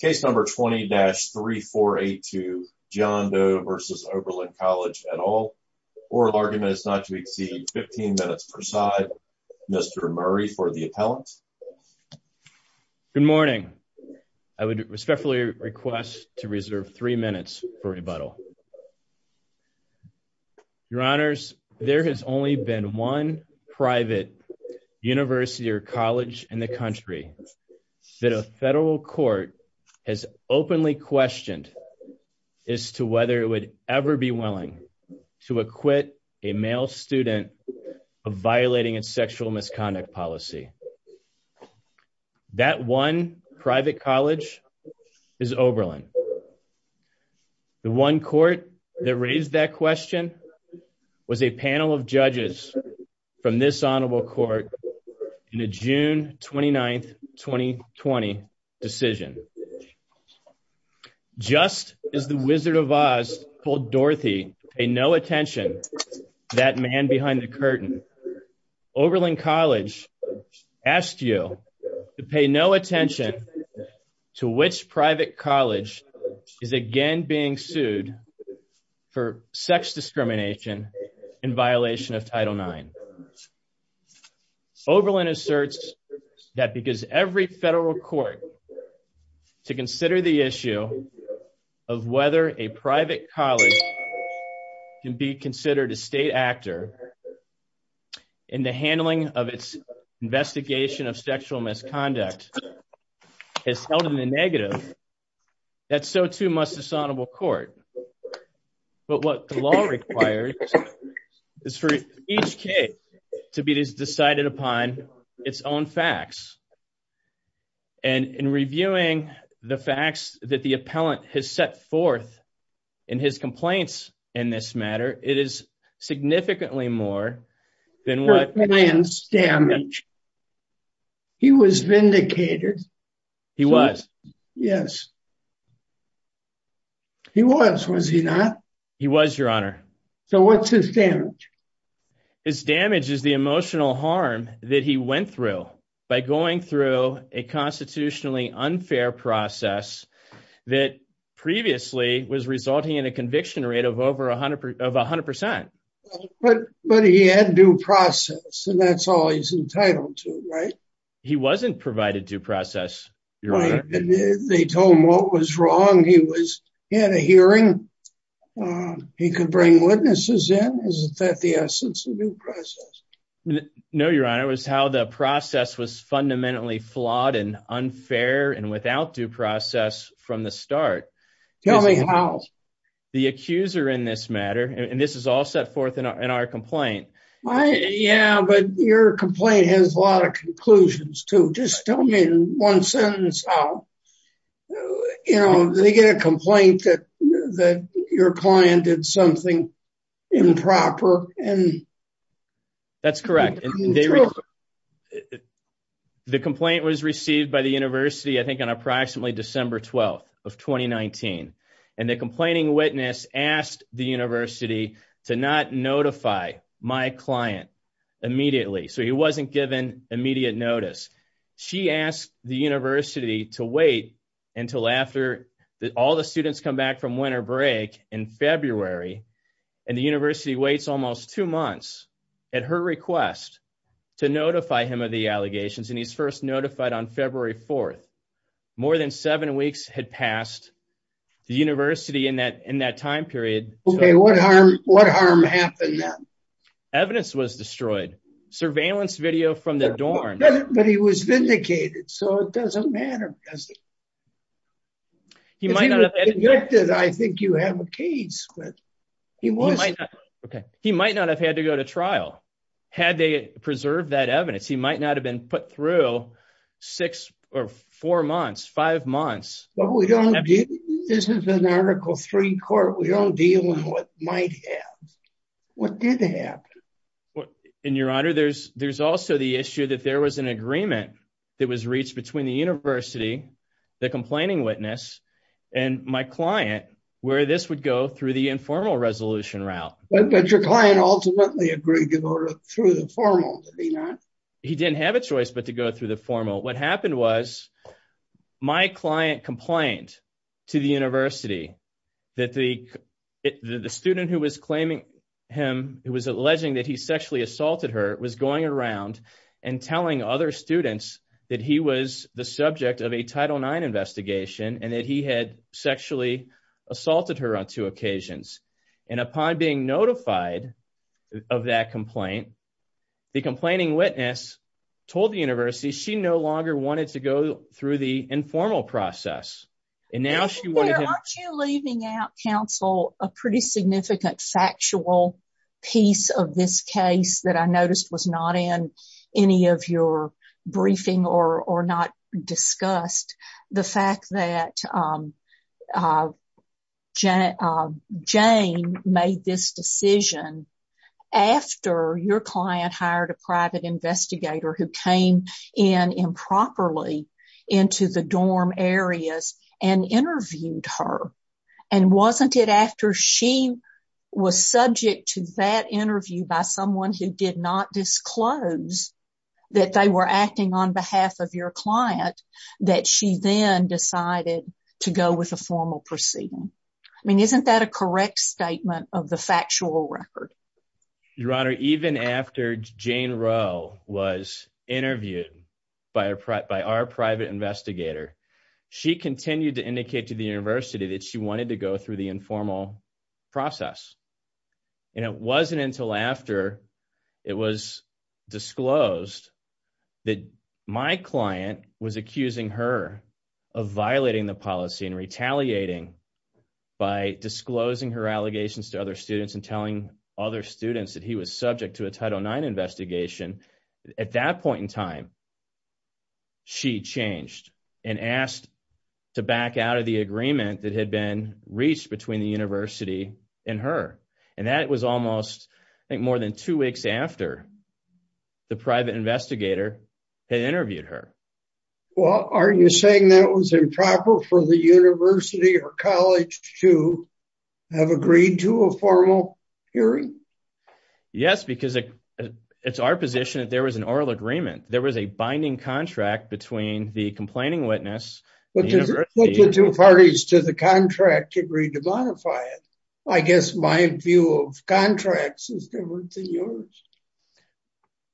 Case number 20-3482 John Doe v. Oberlin College at all. Oral argument is not to exceed 15 minutes per side. Mr. Murray for the appellant. Good morning. I would respectfully request to reserve three minutes for rebuttal. Your honors, there has only been one private university or college in the country that a federal court has openly questioned as to whether it would ever be willing to acquit a male student of violating its sexual misconduct policy. That one private college is Oberlin. The one court that raised that question was a panel of judges from this honorable court in a June 29, 2020 decision. Just as the Wizard of Oz told Dorothy, pay no attention to that man behind the curtain, Oberlin College asked you to pay no attention to which private college is again being sued for sex discrimination in violation of Title IX. Oberlin asserts that because every federal court to consider the issue of whether a private college can be considered a state actor in the handling of its investigation of sexual misconduct is held in the negative, that so too must this honorable court. But what the law requires is for each case to be decided upon its own facts. And in reviewing the facts that the appellant has set forth in his complaints in this matter, it is significantly more than what... Appellant's damage. He was vindicated. He was. Yes. He was, was he not? He was, your honor. So what's his damage? His damage is the emotional harm that he went through by going through a constitutionally unfair process that previously was resulting in a conviction rate of over a hundred percent. But he had due process and that's all he's entitled to, right? He wasn't provided due process, your honor. They told him what was wrong. He had a hearing. He could bring witnesses in. Isn't that the essence of due process? No, your honor. It was how the process was fundamentally flawed and unfair and without due process from the start. Tell me how. The accuser in this matter, and this is all set forth in our complaint. Yeah, but your complaint has a lot of conclusions too. Just tell me in one sentence how, you know, they get a complaint that your client did something improper and that's correct. The complaint was received by the university, I think on approximately December 12th of 2019. And the complaining witness asked the university to not notify my client immediately. So he wasn't given immediate notice. She asked the university to wait until after all the students come back from winter break in request to notify him of the allegations. And he's first notified on February 4th. More than seven weeks had passed. The university in that time period. Okay, what harm happened then? Evidence was destroyed. Surveillance video from their dorm. But he was vindicated, so it doesn't matter, does it? If he was convicted, I think you have a case. He might not have had to go to trial. Had they preserved that evidence, he might not have been put through six or four months, five months. This is an article three court. We don't deal with what might have. What did happen? And your honor, there's also the issue that there was an agreement that was reached between the university, the complaining witness, and my client where this would go through the informal resolution route. But your client ultimately agreed to go through the formal, did he not? He didn't have a choice but to go through the formal. What happened was my client complained to the university that the student who was claiming him, who was alleging that he sexually assaulted her, was going around and telling other students that he was the subject of a Title IX investigation and that he had sexually assaulted her on two occasions. And upon being notified of that complaint, the complaining witness told the university she no longer wanted to go through the informal process. And now she wanted him- Aren't you leaving out, counsel, a pretty significant factual piece of this case that I noticed was not in any of your briefing or not discussed? The fact that Jane made this decision after your client hired a private investigator who came in improperly into the dorm areas and interviewed her. And wasn't it after she was subject to that interview by someone who did not disclose that they were acting on behalf of your client that she then decided to go with a formal proceeding? I mean, isn't that a correct statement of the factual record? Your Honor, even after Jane Rowe was interviewed by our private investigator, she continued to indicate to the university that she wanted to go through the informal process. And it wasn't until after it was disclosed that my client was accusing her of violating the policy and retaliating by disclosing her allegations to other students and telling other students that he was subject to a Title IX investigation. At that point in time, she changed and asked to back out of the agreement that had been reached between the university and her. And that was almost, I think, more than two weeks after the private investigator had interviewed her. Well, are you saying that was improper for the university or college to have agreed to a formal hearing? Yes, because it's our position that there was an oral agreement. There was a binding contract between the complaining witness and the university. But the two parties to the contract agreed to modify it. I guess my view of contracts is different than yours.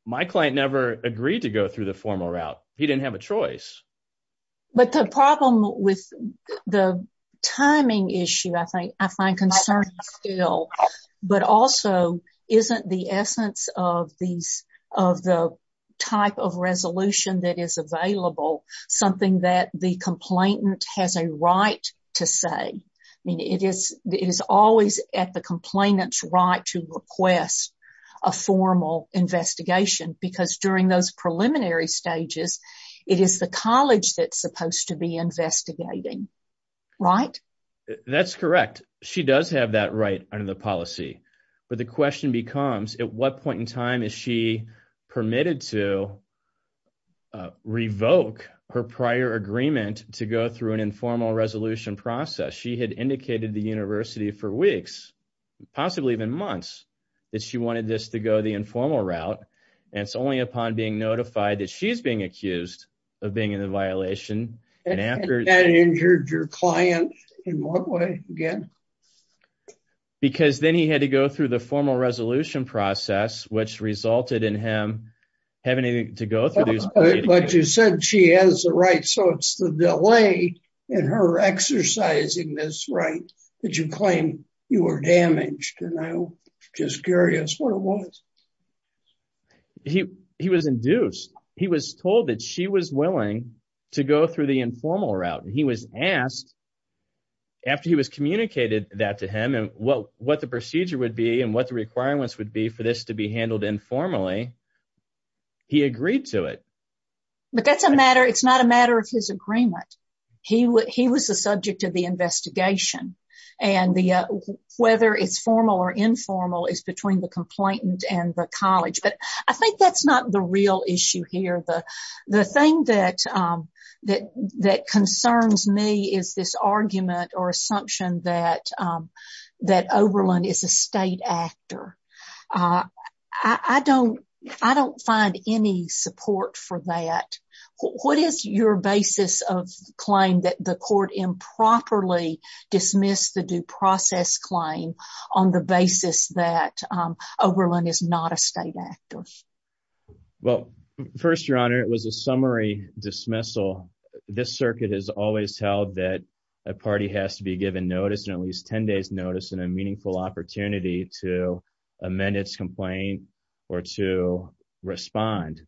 My client never agreed to go through the formal route. He didn't have a choice. But the problem with the timing issue, I think, I find concerning still. But also, isn't the essence of the type of resolution that is available something that the complainant has a right to say? I mean, it is always at the complainant's right to request a formal investigation because during those preliminary stages, it is the college that's supposed to be investigating, right? That's correct. She does have that right under the policy. But the question becomes, at what point in time is she permitted to revoke her prior agreement to go through an informal resolution process? She had indicated the university for weeks, possibly even months, that she wanted this to go the informal route. And it's only upon being notified that she's being accused of being in a violation. And that injured your client in what way again? Because then he had to go through the formal resolution process, which resulted in him having to go through this. But you said she has the right. So it's the delay in her exercising this right that you claim you were damaged. And I'm just curious what it was. He was induced. He was told that she was willing to go through the informal route. And he was asked, after he was communicated that to him, and what the procedure would be and what the requirements would be for this to be handled informally, he agreed to it. But that's a matter, it's not a matter of his agreement. He was the subject of the investigation. And whether it's formal or informal is between the complainant and the college. But I think that's not the real issue here. The thing that concerns me is this argument or assumption that Oberlin is a state actor. I don't find any support for that. What is your basis of claim that the court improperly dismissed the due process claim on the basis that Oberlin is not a state actor? Well, first, Your Honor, it was a summary dismissal. This circuit has always held that a party has to be given notice and at least 10 days notice and a meaningful opportunity to amend its complaint or to respond.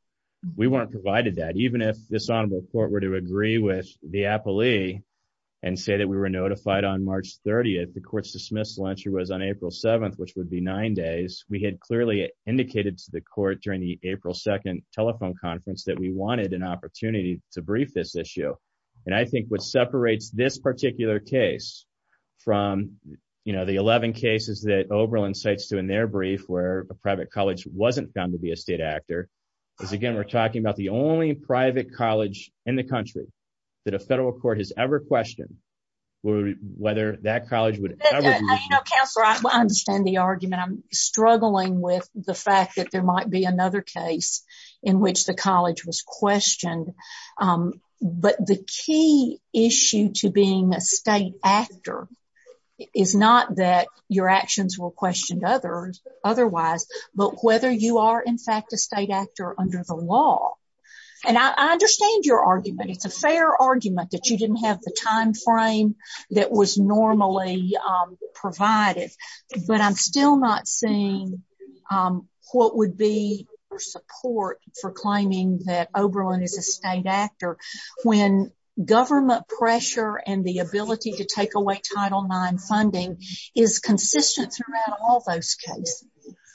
We weren't provided that. Even if this honorable court were to agree with the appellee and say that we were notified on March 30th, the court's dismissal entry was on April 7th, which would be nine days. We had clearly indicated to the court during the April 2nd telephone conference that we wanted an opportunity to brief this issue. And I think what separates this particular case from the 11 cases that Oberlin cites to in their brief where a private college wasn't found to be a state actor, is again, we're talking about the only private college in the country that a federal court has ever questioned whether that college would ever- You know, Counselor, I understand the argument. I'm struggling with the fact that there might be another case in which the college was questioned. But the key issue to being a state actor is not that your actions were questioned otherwise, but whether you are in fact a state actor under the law. And I understand your argument. It's a fair argument that you didn't have the timeframe that was normally provided, but I'm still not seeing what would be your support for claiming that Oberlin is a state actor when government pressure and the ability to take away Title IX funding is consistent throughout all those cases.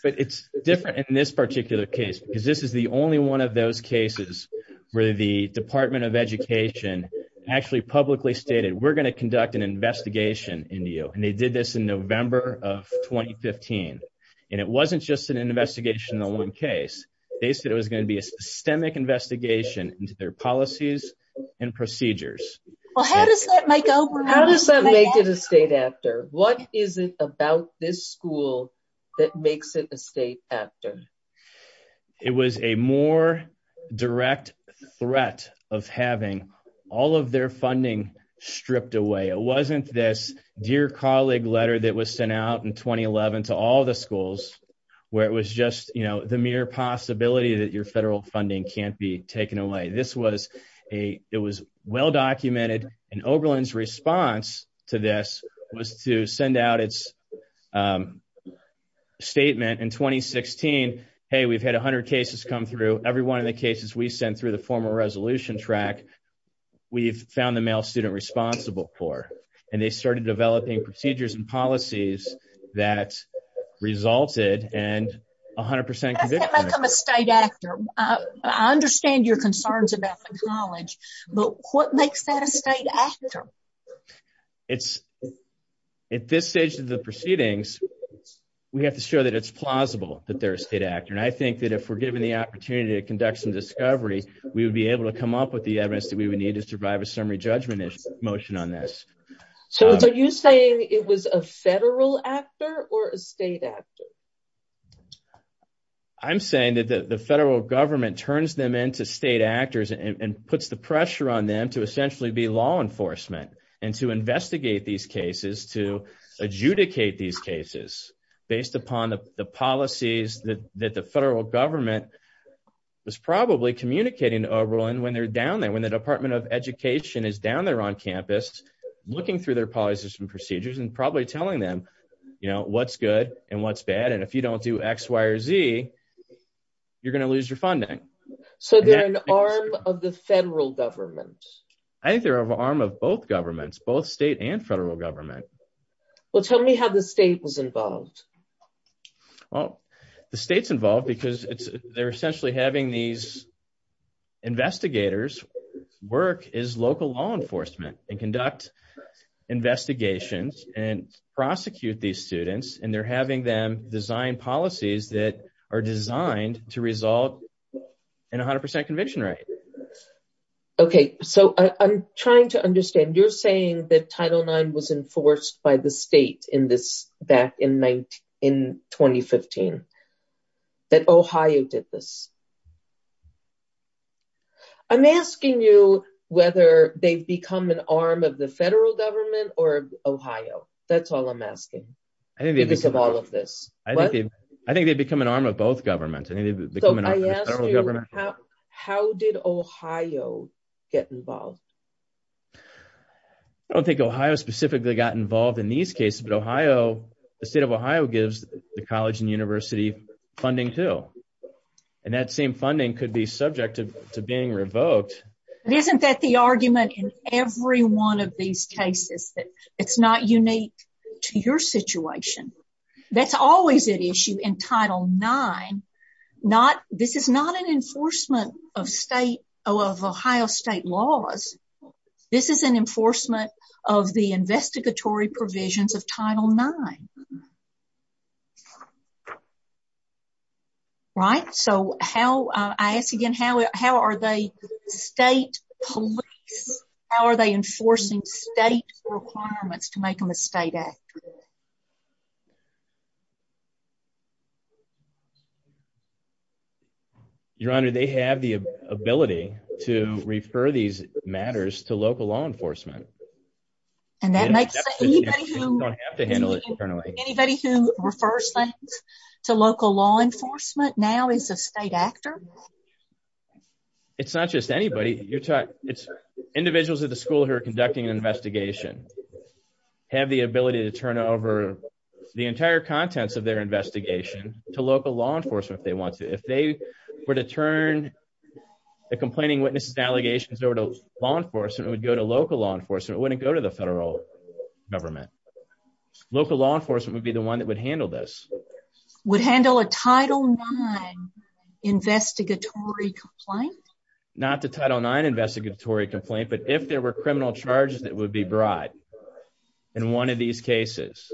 But it's different in this particular case because this is the only one of those cases where the Department of Education actually publicly stated, we're gonna conduct an investigation into you. And they did this in November of 2015. And it wasn't just an investigational case. They said it was gonna be a systemic investigation into their policies and procedures. Well, how does that make Oberlin- How does that make it a state actor? What is it about this school that makes it a state actor? It was a more direct threat of having all of their funding stripped away. It wasn't this dear colleague letter that was sent out in 2011 to all the schools where it was just the mere possibility that your federal funding can't be taken away. This was a, it was well-documented and Oberlin's response to this was to send out its statement in 2016. Hey, we've had a hundred cases come through. Every one of the cases we sent through the formal resolution track, we've found the male student responsible for. And they started developing procedures and policies that resulted and a hundred percent- How does that make them a state actor? I understand your concerns about the college, but what makes that a state actor? At this stage of the proceedings, we have to show that it's plausible that they're a state actor. And I think that if we're given the opportunity to conduct some discovery, we would be able to come up with the evidence that we would need to survive a summary judgment motion on this. So are you saying it was a federal actor or a state actor? I'm saying that the federal government turns them into state actors and puts the pressure on them to essentially be law enforcement and to investigate these cases, to adjudicate these cases based upon the policies that the federal government was probably communicating to Oberlin when they're down there, when the Department of Education is down there on campus, looking through their policies and procedures and probably telling them, what's good and what's bad. And if you don't do X, Y, or Z, you're going to lose your funding. So they're an arm of the federal government? I think they're an arm of both governments, both state and federal government. Well, tell me how the state was involved. Well, the state's involved because they're essentially having these investigators work as local law enforcement and conduct investigations and prosecute these students. And they're having them design policies that are designed to result in 100% conviction rate. Okay, so I'm trying to understand, you're saying that Title IX was enforced by the state in this back in 2015, that Ohio did this? I'm asking you whether they've become an arm of the federal government or Ohio. That's all I'm asking. Because of all of this. I think they've become an arm of both governments. So I asked you, how did Ohio get involved? I don't think Ohio specifically got involved in these cases, but Ohio, the state of Ohio gives the college and university funding too. And that same funding could be subject to being revoked. But isn't that the argument in every one of these cases that it's not unique to your situation? That's always an issue in Title IX. This is not an enforcement of Ohio state laws. This is an enforcement of the investigatory provisions of Title IX. Right? So how, I asked again, how are they state police? How are they enforcing state requirements to make them a state act? Your Honor, they have the ability to refer these matters to local law enforcement. And that makes sense. Anybody who refers things to local law enforcement now is a state actor? It's not just anybody. You're talking, it's individuals at the school who are conducting an investigation, have the ability to turn over the entire contents of their investigation to local law enforcement if they want to. If they were to turn the complaining witnesses allegations over to law enforcement, it would go to local law enforcement. It wouldn't go to the federal government. Local law enforcement would be the one that would handle this. It would handle a Title IX investigatory complaint? Not the Title IX investigatory complaint, but if there were criminal charges that would be brought in one of these cases,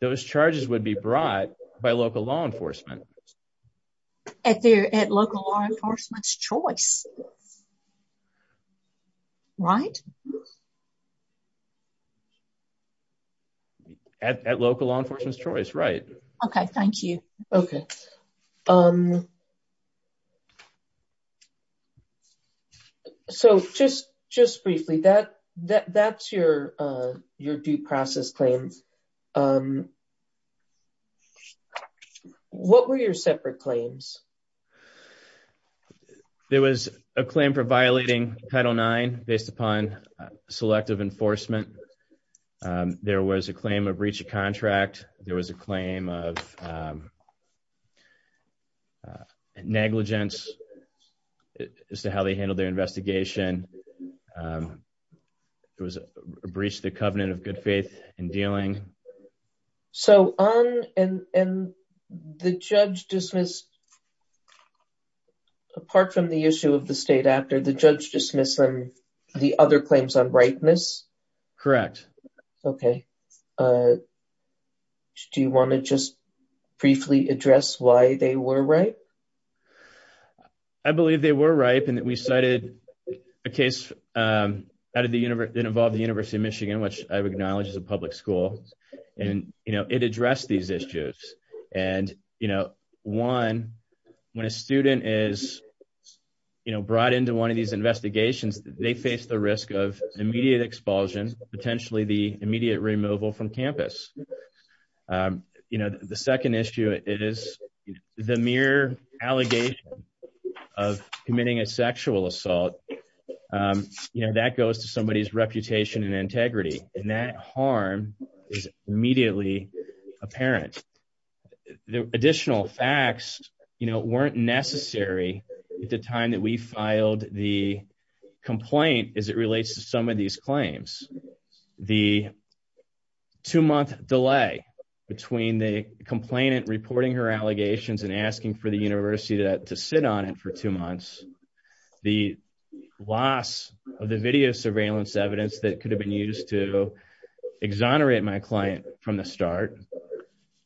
those charges would be brought by local law enforcement. At local law enforcement's choice, right? At local law enforcement's choice, right. Okay, thank you. Okay. So just briefly, that's your due process claims. Um, what were your separate claims? There was a claim for violating Title IX based upon selective enforcement. There was a claim of breach of contract. There was a claim of negligence as to how they handled their investigation. It was a breach of the covenant of good faith in dealing. So on, and the judge dismissed, apart from the issue of the state after, the judge dismissed the other claims on ripeness? Correct. Okay. Do you want to just briefly address why they were ripe? I believe they were ripe and that we cited a case that involved the University of Michigan, which I've acknowledged is a public school. And, you know, it addressed these issues. And, you know, one, when a student is, you know, brought into one of these investigations, they face the risk of immediate expulsion, potentially the immediate removal from campus. You know, the second issue, it is the mere allegation of committing a sexual assault. You know, that goes to somebody's reputation and integrity. And that harm is immediately apparent. The additional facts, you know, weren't necessary at the time that we filed the complaint as it relates to some of these claims. The two month delay between the complainant reporting her allegations and asking for the university to sit on it for two months, the loss of the video surveillance evidence that could have been used to exonerate my client from the start.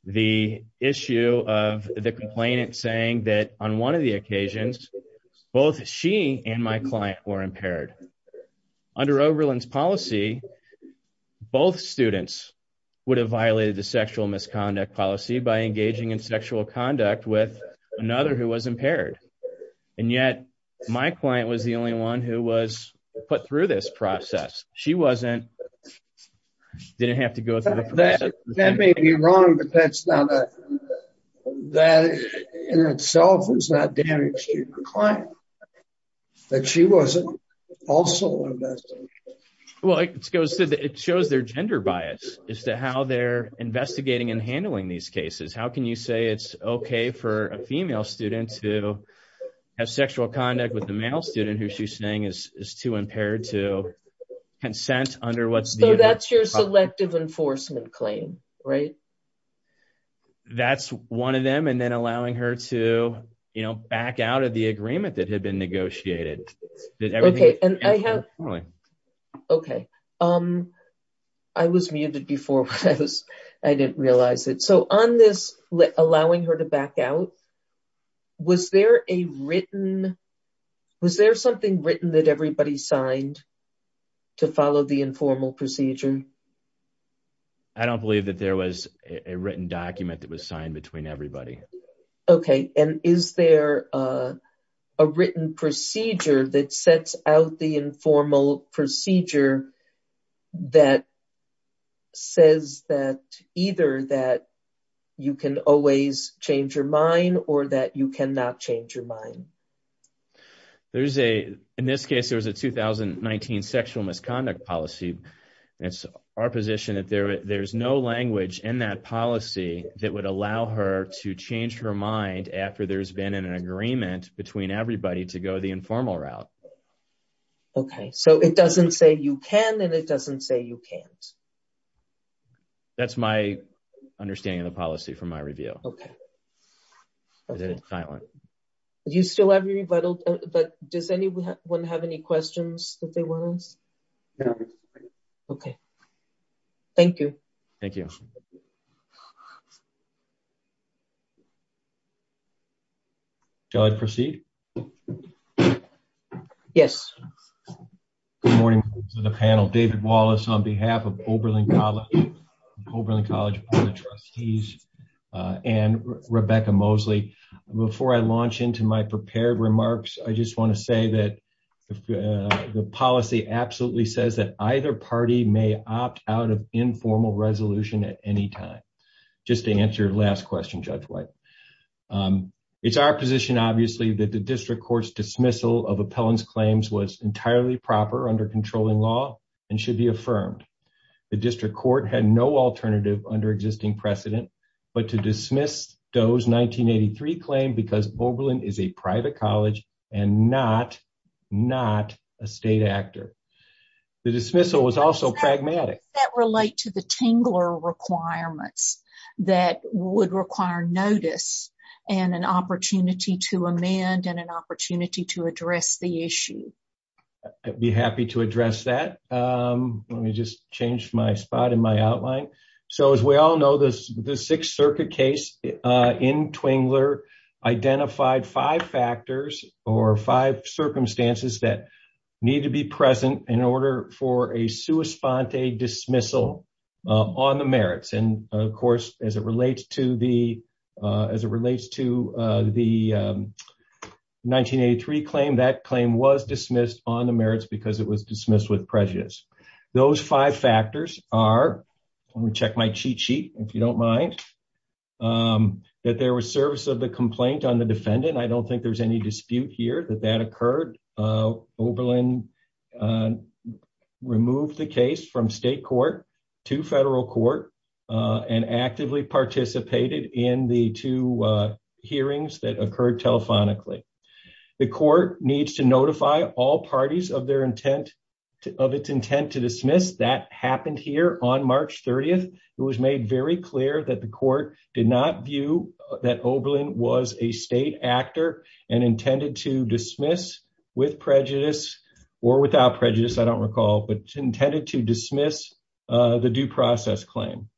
The issue of the complainant saying that on one of the occasions, both she and my client were impaired. Under Oberlin's policy, both students would have violated the sexual misconduct policy by engaging in sexual conduct with another who was impaired. And yet my client was the only one who was put through this process. She wasn't, didn't have to go through that. That may be wrong, but that's not a, that in itself is not damaging the client. That she wasn't also invested. Well, it goes to, it shows their gender bias as to how they're investigating and handling these cases. How can you say it's okay for a female student to have sexual conduct with the male student who she's saying is too impaired to consent under what's- So that's your selective enforcement claim, right? That's one of them. And then allowing her to, you know, back out of the agreement that had been negotiated. Okay. And I have, okay. I was muted before I didn't realize it. So on this, allowing her to back out, was there a written, was there something written that everybody signed to follow the informal procedure? I don't believe that there was a written document that was signed between everybody. Okay. And is there a written procedure that sets out the informal procedure that says that either that you can always change your mind or that you cannot change your mind? There's a, in this case, there was a 2019 sexual misconduct policy. And it's our position that there's no language in that policy that would allow her to change her mind after there's been an agreement between everybody to go the informal route. Okay. So it doesn't say you can, and it doesn't say you can't. That's my understanding of the policy from my review. Okay. I did it silent. Do you still have your rebuttal? But does anyone have any questions that they want to ask? No. Okay. Thank you. Thank you. Shall I proceed? Yes. Good morning to the panel. David Wallace on behalf of Oberlin College, Oberlin College Board of Trustees and Rebecca Mosley. Before I launch into my prepared remarks, I just want to say that the policy absolutely says that either party may opt out of informal resolution at any time. Just to answer your last question, Judge White. It's our position, obviously, that the district court's dismissal of appellant's claims was entirely proper under controlling law and should be affirmed. The district court had no alternative under existing precedent, but to dismiss Doe's 1983 claim because Oberlin is a private college and not a state actor. The dismissal was also pragmatic. That relate to the Tingler requirements that would require notice and an opportunity to amend and an opportunity to address the issue. Let me just change my spot in my outline. As we all know, the Sixth Circuit case in Twingler identified five factors or five circumstances that need to be present in order for a sua sponte dismissal on the merits. And of course, as it relates to the 1983 claim, that claim was dismissed on the merits because it was dismissed with prejudice. Those five factors are, let me check my cheat sheet, if you don't mind, that there was service of the complaint on the defendant. I don't think there's any dispute here that that occurred. Oberlin removed the case from state court to federal court and actively participated in the two hearings that occurred telephonically. The court needs to notify all parties of its intent to dismiss. That happened here on March 30th. It was made very clear that the court did not view that Oberlin was a state actor and intended to dismiss with prejudice or without prejudice, I don't recall, but intended to dismiss the due process claim.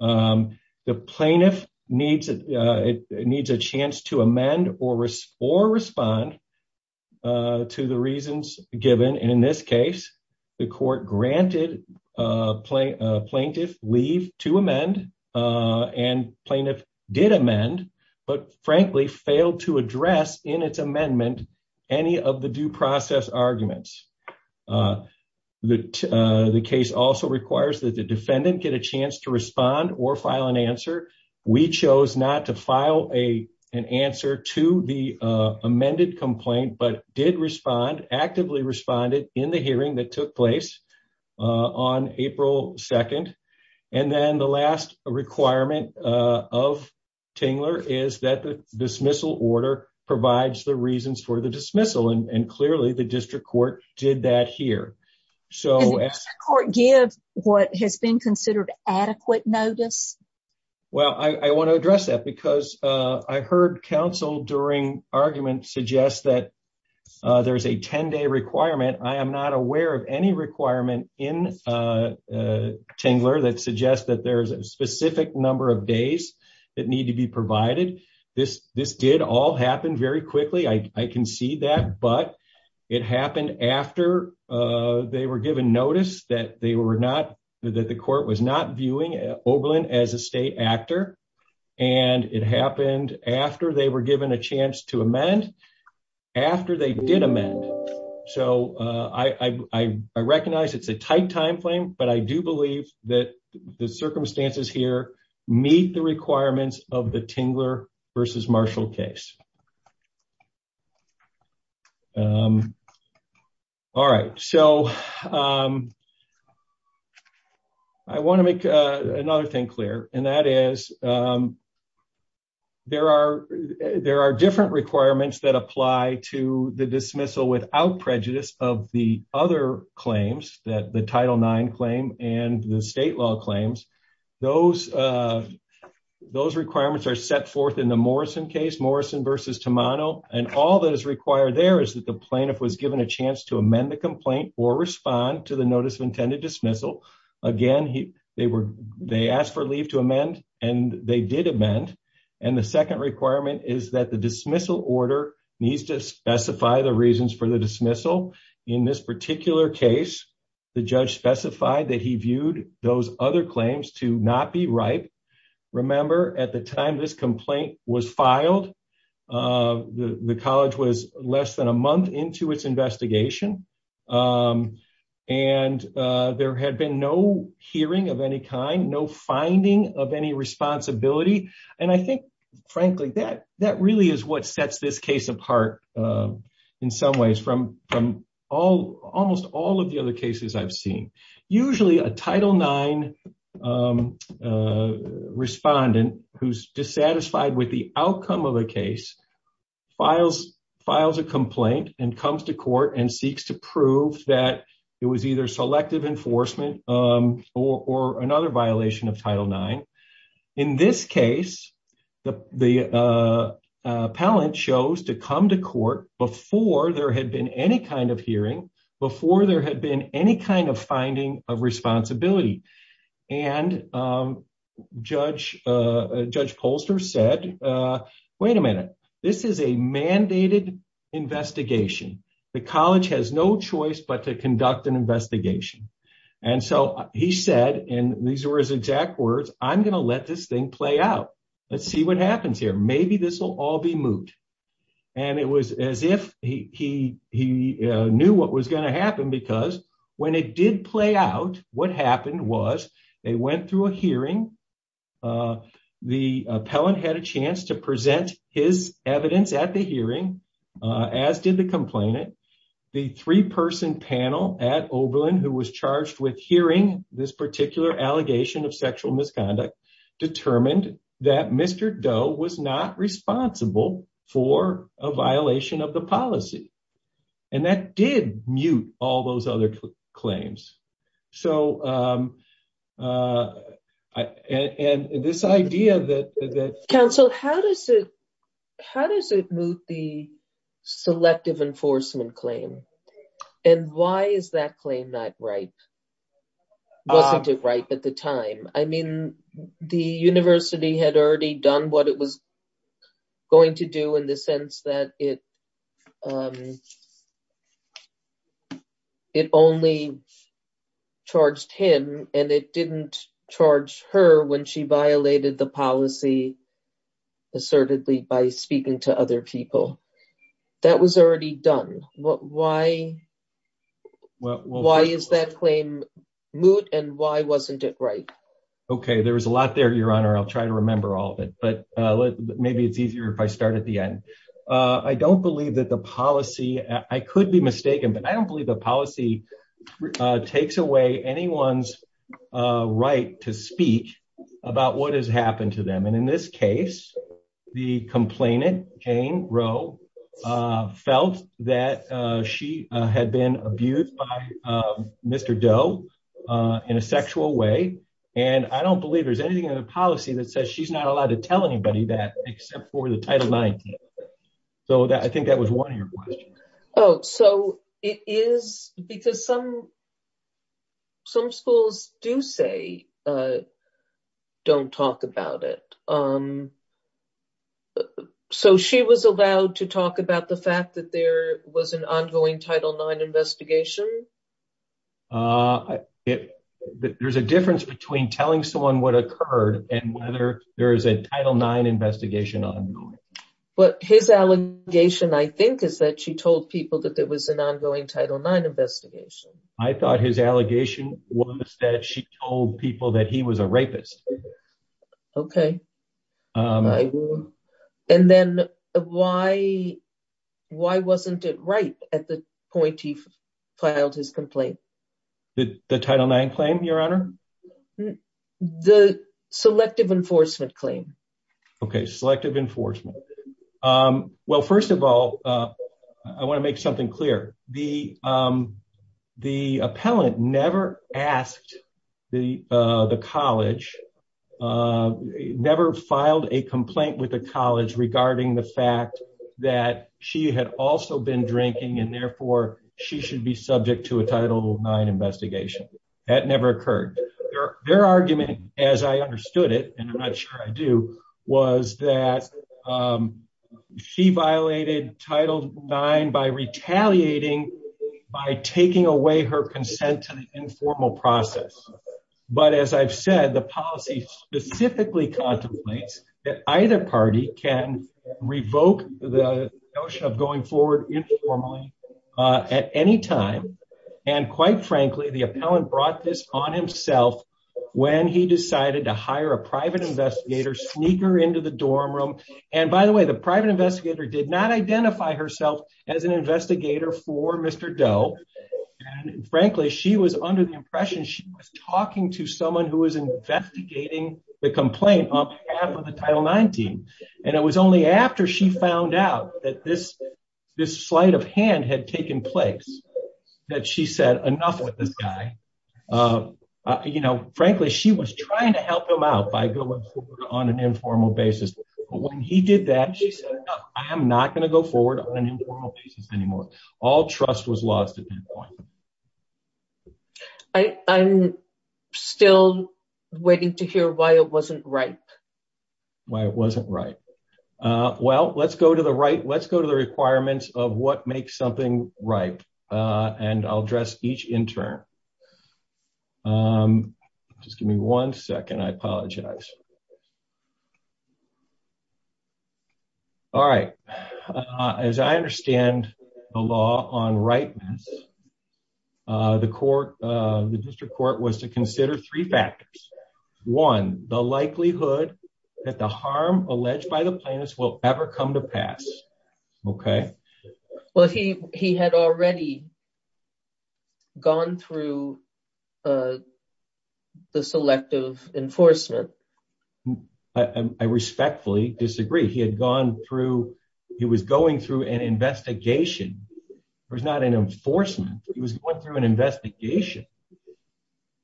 The plaintiff needs a chance to amend or respond to the reasons given. And in this case, the court granted a plaintiff leave to amend and plaintiff did amend, but frankly failed to address in its amendment any of the due process arguments. The case also requires that the defendant get a chance to respond or file an answer. We chose not to file an answer to the amended complaint, but did respond, actively responded in the hearing that took place on April 2nd. And then the last requirement of Tingler is that the dismissal order provides the reasons for the dismissal. And clearly the district court did that here. So court gives what has been considered adequate notice. Well, I want to address that because I heard counsel during argument suggest that there's a 10 day requirement. I am not aware of any requirement in Tingler that suggests that there's a specific number of days that need to be provided. This did all happen very quickly. I can see that, but it happened after they were given notice that they were not, that the court was not viewing Oberlin as a state actor. And it happened after they were given a chance to amend, after they did amend. So I recognize it's a tight timeframe, but I do believe that the circumstances here meet the requirements of the Tingler versus Marshall case. All right. So I want to make another thing clear, and that is there are, there are different requirements that apply to the dismissal without prejudice of the other claims that the Title IX claim and the state law claims. Those requirements are set forth in the Morrison case, Morrison versus Tamano. And all that is required there is that the plaintiff was given a chance to amend the complaint or respond to the notice of intended dismissal. Again, they asked for leave and they did amend. And the second requirement is that the dismissal order needs to specify the reasons for the dismissal. In this particular case, the judge specified that he viewed those other claims to not be ripe. Remember, at the time this complaint was filed, the college was less than a month into its investigation. And there had been no hearing of any kind, no finding of any responsibility. And I think, frankly, that really is what sets this case apart in some ways from almost all of the other cases I've seen. Usually a Title IX respondent who's dissatisfied with the outcome of a case files a complaint and comes to court and seeks to prove that it was either selective enforcement or another violation of Title IX. In this case, the appellant chose to come to court before there had been any kind of hearing, before there had been any kind of finding of responsibility. And Judge Polster said, wait a minute, this is a mandated investigation. The college has no choice but to conduct an investigation. And so he said, and these were his exact words, I'm going to let this thing play out. Let's see what happens here. Maybe this will all be moot. And it was as if he knew what was going to happen, because when it did play out, what happened was they went through a hearing. The appellant had a chance to present his evidence at the hearing, as did the complainant. The three-person panel at Oberlin, who was charged with hearing this particular allegation of sexual misconduct, determined that Mr. Doe was not responsible for a violation of the policy. And that did mute all those other claims. So, and this idea that... Counsel, how does it, how does it moot the selective enforcement claim? And why is that claim not ripe? Wasn't it ripe at the time? I mean, the university had already done what it was going to do in the sense that it, it only charged him and it didn't charge her when she violated the policy assertedly by speaking to other people. That was already done. Why is that claim moot? And why wasn't it ripe? Okay, there was a lot there, Your Honor. I'll try to remember all of it, but maybe it's easier if I start at the end. I don't believe that the policy, I could be mistaken, but I don't believe the policy takes away anyone's right to speak about what has happened to them. And in this case, the complainant, Jane Rowe, felt that she had been abused by Mr. Doe in a sexual way. And I don't believe there's anything in the policy that says she's not allowed to tell anybody that, except for the Title 19. So I think that was one of your questions. Oh, so it is because some, some schools do say don't talk about it. Um, so she was allowed to talk about the fact that there was an ongoing Title 9 investigation? Uh, there's a difference between telling someone what occurred and whether there is a Title 9 investigation ongoing. But his allegation, I think, is that she told people that there was an ongoing Title 9 investigation. I thought his allegation was that she told people that he was a rapist. Okay. And then why, why wasn't it right at the point he filed his complaint? The Title 9 claim, Your Honor? The selective enforcement claim. Okay, selective enforcement. Well, first of all, I want to make something clear. The, um, the appellant never asked the, uh, the college uh, never filed a complaint with the college regarding the fact that she had also been drinking and therefore she should be subject to a Title 9 investigation. That never occurred. Their argument, as I understood it, and I'm not sure I do, was that, um, she violated Title 9 by retaliating by taking away her consent to the informal process. But as I've said, the policy specifically contemplates that either party can revoke the notion of going forward informally at any time. And quite frankly, the appellant brought this on himself when he decided to hire a private investigator, sneak her into the dorm room. And by the way, the private investigator did not identify herself as an investigator for Mr. Doe. And frankly, she was under the impression she was talking to someone who was investigating the complaint on behalf of the Title 9 team. And it was only after she found out that this, this sleight of hand had taken place, that she said, enough with this guy. You know, frankly, she was trying to help him out by going forward on an informal basis. But when he did that, she said, I am not going to go forward on an informal basis anymore. All trust was lost at that point. I, I'm still waiting to hear why it wasn't right. Why it wasn't right. Well, let's go to the right. Let's go to the requirements of what makes something right. And I'll address each intern. Just give me one second. I apologize. All right. As I understand the law on rightness, the court, the district court was to consider three factors. One, the likelihood that the harm alleged by the plaintiffs will ever come to pass. Okay. Well, he, he had already gone through the selective enforcement. I respectfully disagree. He had gone through, he was going through an investigation. It was not an enforcement. He was going through an investigation.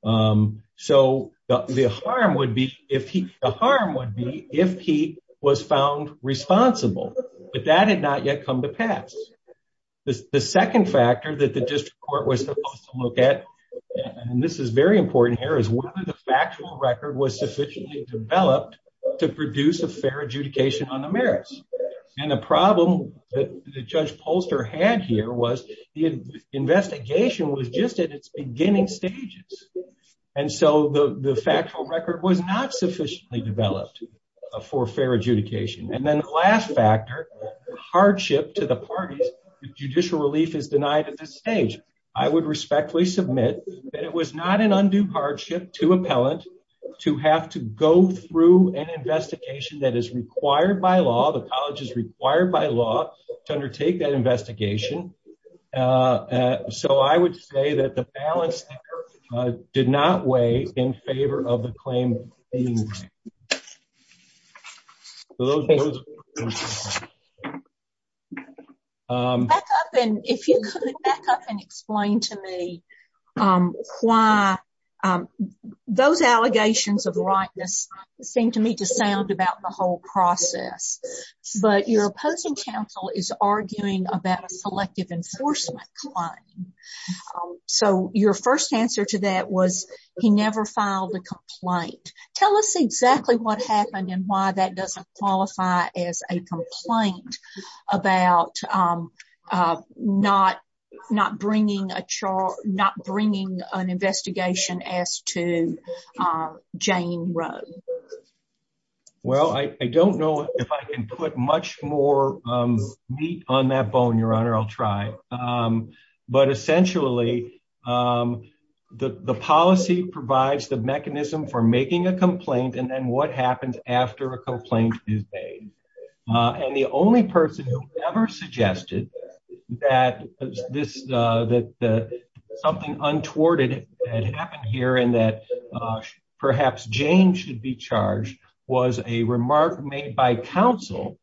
So the harm would be if he, the harm would be if he was found responsible, but that had not yet come to pass. The second factor that the district court was supposed to look at, and this is very important here, is whether the factual record was sufficiently developed to produce a fair adjudication on the merits. And the problem that the judge Polster had here was the investigation was just at its beginning stages. And so the factual record was not sufficiently developed for fair adjudication. And then the last factor, hardship to the parties, judicial relief is denied at this stage. I would respectfully submit that it was not an undue hardship to appellant to have to go through an investigation that is required by law. The college is required by law to undertake that investigation. Uh, so I would say that the balance did not weigh in favor of the claim. Back up and if you could back up and explain to me why those allegations of rightness seem to me to sound about the whole process, but your opposing counsel is arguing about selective enforcement claim. So your first answer to that was he never filed a complaint. Tell us exactly what happened and why that doesn't qualify as a complaint about not not bringing a chart, not bringing an investigation as to Jane Road. Well, I don't know if I can put much more meat on that bone. Your Honor, I'll try. But essentially the policy provides the mechanism for making a complaint and then what happens after a complaint is made. And the only person who ever suggested that this that something untoward it had happened here and that perhaps Jane should be charged was a remark made by counsel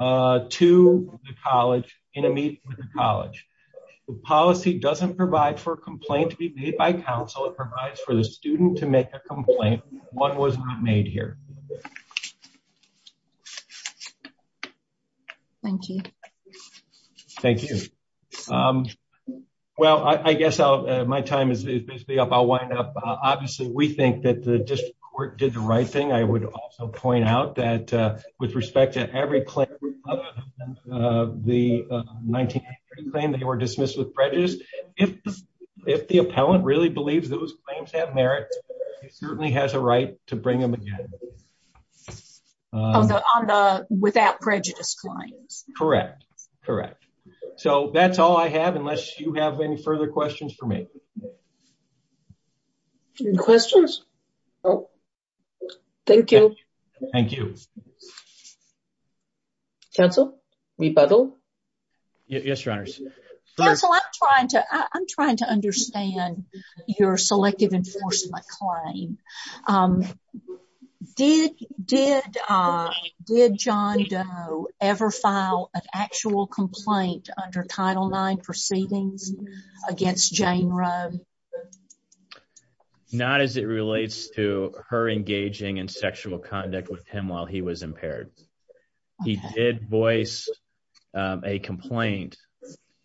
to the college in a meeting with the college. The policy doesn't provide for a complaint to be made by counsel. It provides for the student to make a complaint. One was not made here. Thank you. Thank you. Well, I guess my time is basically up. I'll wind up. Obviously, we think that the district court did the right thing. I would also point out with respect to every claim the 1983 claim they were dismissed with prejudice. If the appellant really believes those claims have merit, it certainly has a right to bring them again. Without prejudice claims. Correct. Correct. So that's all I have, unless you have any further questions for me. Questions? Thank you. Thank you. Thank you. Counsel? Rebuttal? Yes, your honors. Counsel, I'm trying to understand your selective enforcement claim. Did John Doe ever file an actual complaint under Title IX proceedings against Jane Roe? Not as it relates to her engaging in sexual conduct with him while he was impaired. He did voice a complaint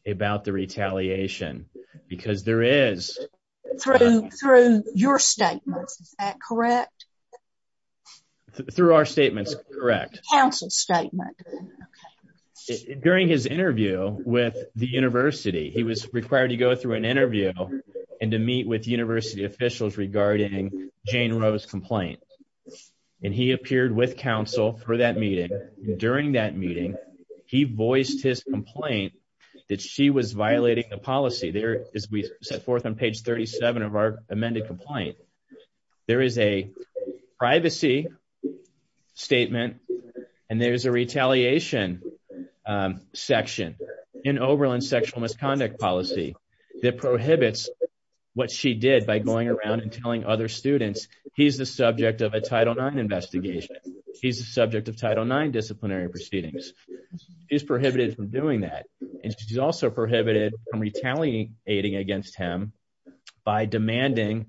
about the retaliation because there is. Through your statements, is that correct? Through our statements, correct. Counsel's statement. During his interview with the university, he was required to go through an interview and to meet with university officials regarding Jane Roe's complaint. And he appeared with counsel for that meeting. During that meeting, he voiced his complaint that she was violating the policy. There is we set forth on page 37 of our amended complaint. There is a privacy statement and there's a retaliation section in Oberlin sexual misconduct policy that prohibits what she did by going around and telling other students he's the subject of a Title IX investigation. He's the subject of Title IX disciplinary proceedings. She's prohibited from doing that. And she's also prohibited from retaliating against him by demanding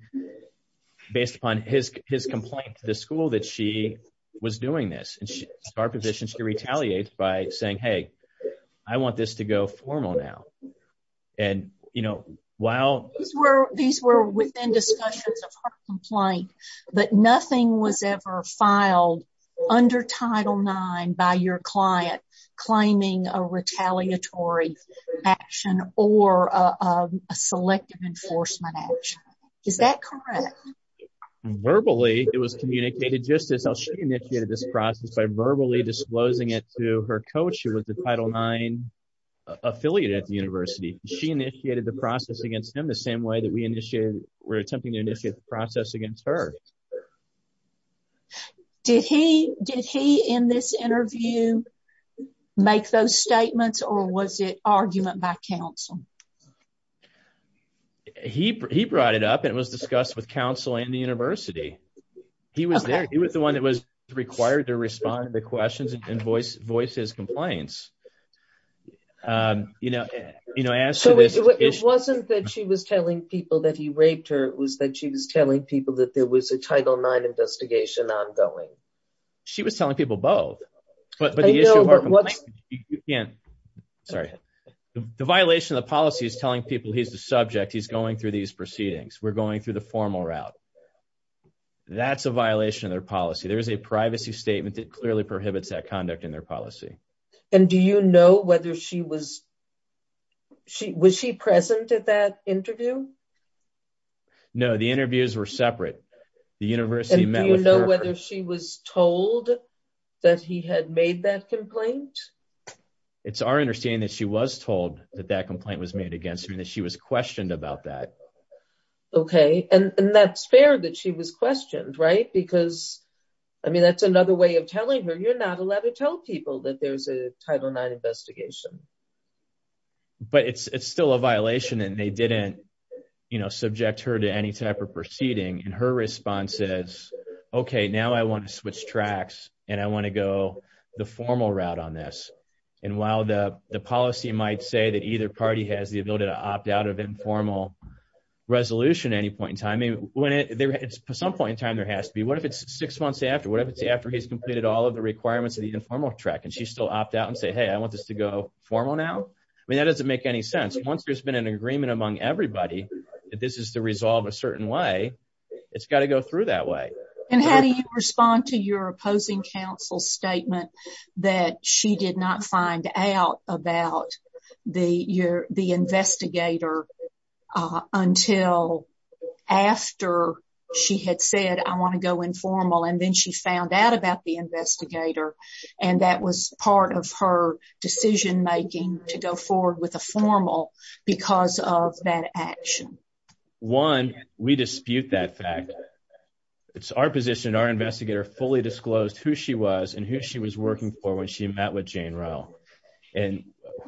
based upon his complaint to the school that she was doing this. And she's in our position to retaliate by saying, hey, I want this to go formal now. And, you know, while. These were within discussions of her complaint, but nothing was ever filed under Title IX by your client claiming a retaliatory action or a selective enforcement action. Is that correct? Verbally, it was communicated just as she initiated this process by verbally disclosing it to her coach who was the Title IX affiliate at the university. She initiated the process against him the same way that we initiated we're attempting to initiate the process against her. Did he did he in this interview make those statements or was it argument by counsel? He he brought it up and it was discussed with counsel and the university. He was there. He was the one that was required to respond to the questions and voice voice his complaints. You know, you know, as it wasn't that she was telling people that he raped her. It was that she was telling people that there was a Title IX investigation ongoing. She was telling people both, but the issue of what you can't. Sorry, the violation of the policy is telling people he's the subject. He's going through these proceedings. We're going through the formal route. That's a violation of their policy. There is a privacy statement that clearly prohibits that conduct in their policy. And do you know whether she was? She was she present at that interview? No, the interviews were separate. The university met. You know whether she was told that he had made that complaint. It's our understanding that she was told that that complaint was made against her, that she was questioned about that. OK, and that's fair that she was questioned, right? Because I mean, that's another way of telling her you're not allowed to tell people that there's a Title IX investigation. But it's still a violation and they didn't, you know, subject her to any type of proceeding. And her response is OK, now I want to switch tracks and I want to go the formal route on this. And while the policy might say that either party has the ability to opt out of informal resolution at any point in time, and when it's some point in time, there has to be. What if it's six months after? What if it's after he's completed all of the requirements of the informal track and she still opt out and say, hey, I want this to go formal now. I mean, that doesn't make any sense. Once there's been an agreement among everybody that this is the resolve a certain way, it's got to go through that way. And how do you respond to your opposing counsel's statement that she did not find out about the investigator until after she had said, I want to go informal and then she found out about the investigator. And that was part of her decision making to go forward with a formal because of that action. One, we dispute that fact. It's our position. Our investigator fully disclosed who she was and who she was working for when she met with Jane Rowe. And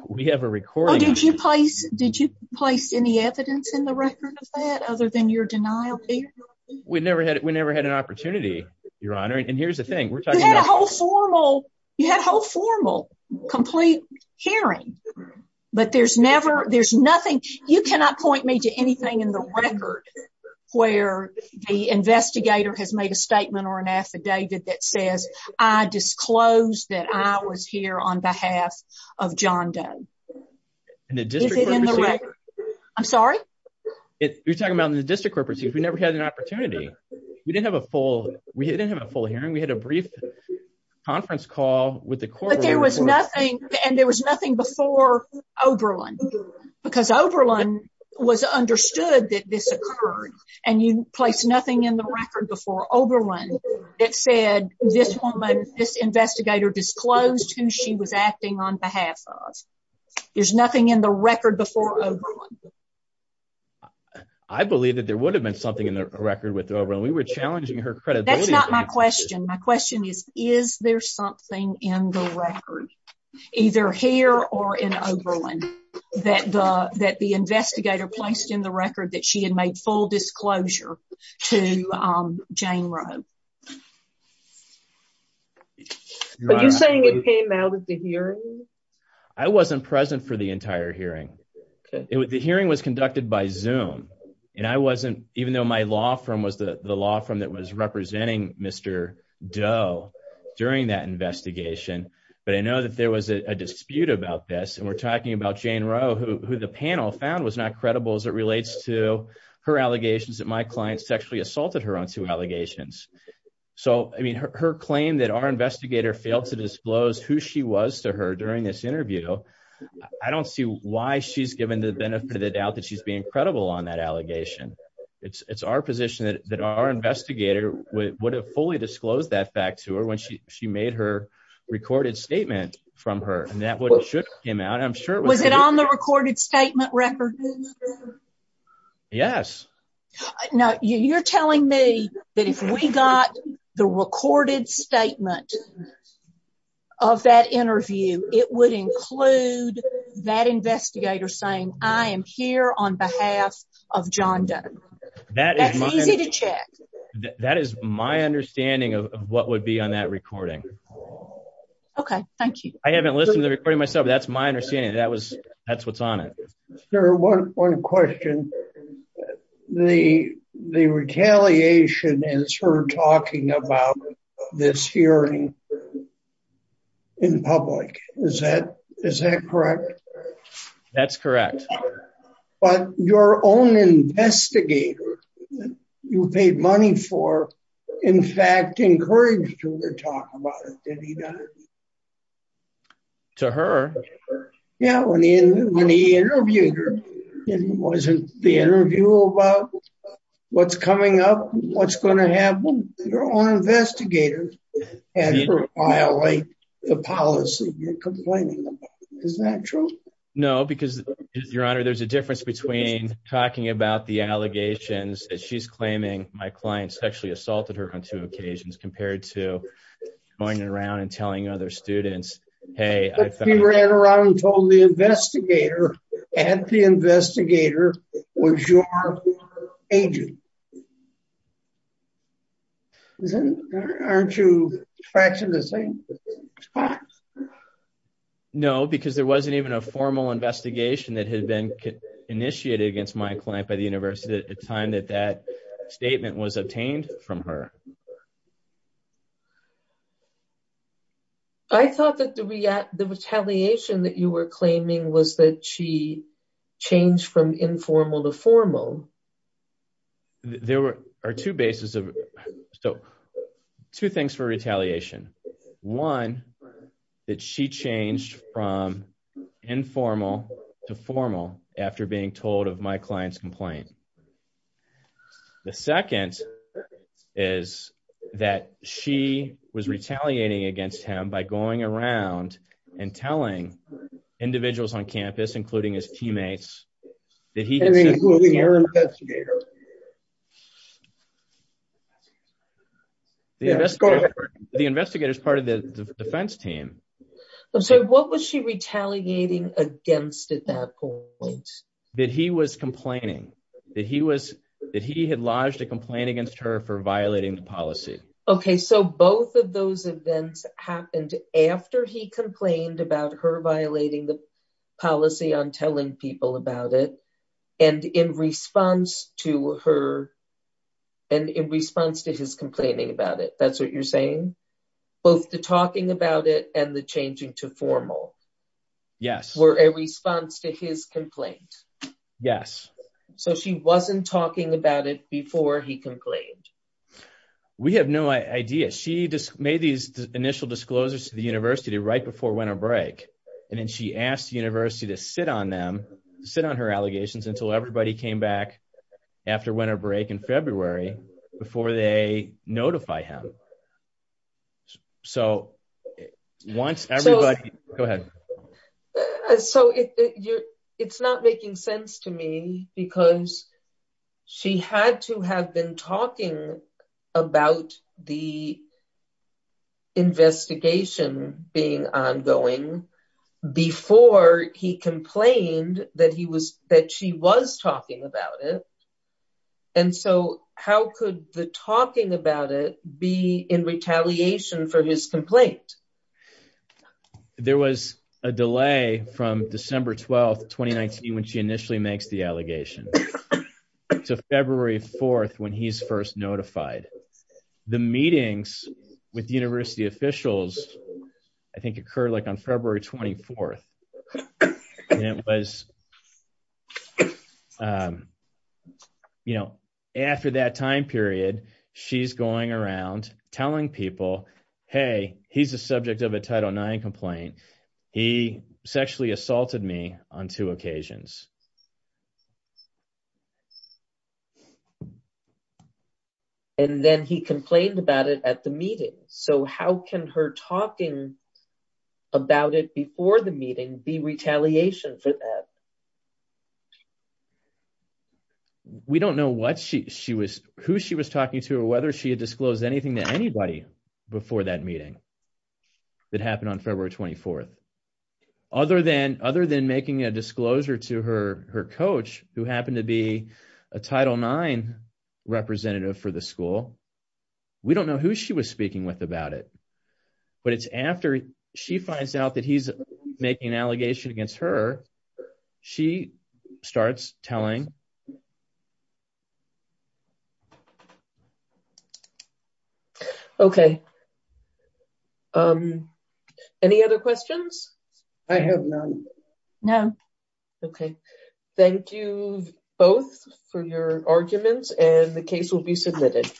we have a recording. Oh, did you place any evidence in the record of that other than your denial? We never had an opportunity, Your Honor. And here's the thing, we're talking about- You had a whole formal, you had a whole formal complete hearing, but there's never- There's nothing- You cannot point me to anything in the record where the investigator has made a statement or an affidavit that says, I disclosed that I was here on behalf of John Doe. Is it in the record? I'm sorry? You're talking about in the district corporate, we never had an opportunity. We didn't have a full- We didn't have a full hearing. We had a brief conference call with the corporate- But there was nothing and there was nothing before Oberlin because Oberlin was understood that this occurred and you placed nothing in the record before Oberlin that said this woman, this investigator disclosed who she was acting on behalf of. There's nothing in the record before Oberlin. I believe that there would have been something in the record with Oberlin. We were challenging her credibility- That's not my question. My question is, is there something in the record? Either here or in Oberlin that the investigator placed in the record that she had made full disclosure to Jane Rowe? Are you saying it came out of the hearing? I wasn't present for the entire hearing. The hearing was conducted by Zoom and I wasn't, even though my law firm was the law firm that was representing Mr. Doe during that investigation, but I know that there was a dispute about this and we're talking about Jane Rowe, who the panel found was not credible as it relates to her allegations that my client sexually assaulted her on two allegations. Her claim that our investigator failed to disclose who she was to her during this interview, I don't see why she's given the benefit of the doubt that she's being credible on that allegation. It's our position that our investigator would have fully disclosed that fact to her when she made her recorded statement from her and that would have shook him out. I'm sure it was... Was it on the recorded statement record? Yes. Now, you're telling me that if we got the recorded statement of that interview, it would include that investigator saying I am here on behalf of John Doe. That's easy to check. That is my understanding of what would be on that recording. Okay, thank you. I haven't listened to the recording myself. That's my understanding. That was... That's what's on it. Sir, one question. The retaliation is her talking about this hearing in public. Is that correct? That's correct. But your own investigator you paid money for, in fact, encouraged her to talk about it. Did he not? To her? Yeah, when he interviewed her, it wasn't the interview about what's coming up, what's going to happen. Your own investigator had her violate the policy you're complaining about. Is that true? No, because your honor, there's a difference between talking about the allegations that she's claiming my client sexually assaulted her on two occasions compared to going around and telling other students, hey, I thought... But he ran around and told the investigator and the investigator was your agent. Aren't you trashing the same spot? No, because there wasn't even a formal investigation that had been initiated against my client by the university at the time that that statement was obtained from her. I thought that the retaliation that you were claiming was that she changed from informal to formal. There are two bases of... So two things for retaliation. One, that she changed from informal to formal after being told of my client's complaint. The second is that she was retaliating against him by going around and telling individuals on campus, including his teammates... The investigator is part of the defense team. So what was she retaliating against at that point? That he was complaining, that he had lodged a complaint against her for violating the policy. Okay, so both of those events happened after he complained about her violating the policy on telling people about it. And in response to her... And in response to his complaining about it. That's what you're saying? Both the talking about it and the changing to formal. Yes. Were a response to his complaint. Yes. So she wasn't talking about it before he complained. We have no idea. She made these initial disclosures to the university right before winter break. And then she asked the university to sit on them, sit on her allegations until everybody came back after winter break in February before they notify him. So once everybody... Go ahead. So it's not making sense to me because she had to have been talking about the investigation being ongoing before he complained that she was talking about it. And so how could the talking about it be in retaliation for his complaint? There was a delay from December 12th, 2019, when she initially makes the allegation to February 4th, when he's first notified. The meetings with university officials, I think occurred like on February 24th. And it was... After that time period, she's going around telling people, hey, he's a subject of a Title IX complaint. He sexually assaulted me on two occasions. And then he complained about it at the meeting. So how can her talking about it before the meeting be retaliation for that? We don't know who she was talking to or whether she had disclosed anything to anybody before that meeting that happened on February 24th. Other than making a disclosure to her coach, who happened to be a Title IX representative for the school, we don't know who she was speaking with about it. But it's after she finds out that he's making an allegation against her, she starts telling... Okay. Any other questions? I have none. No. Okay. Thank you both for your arguments and the case will be submitted.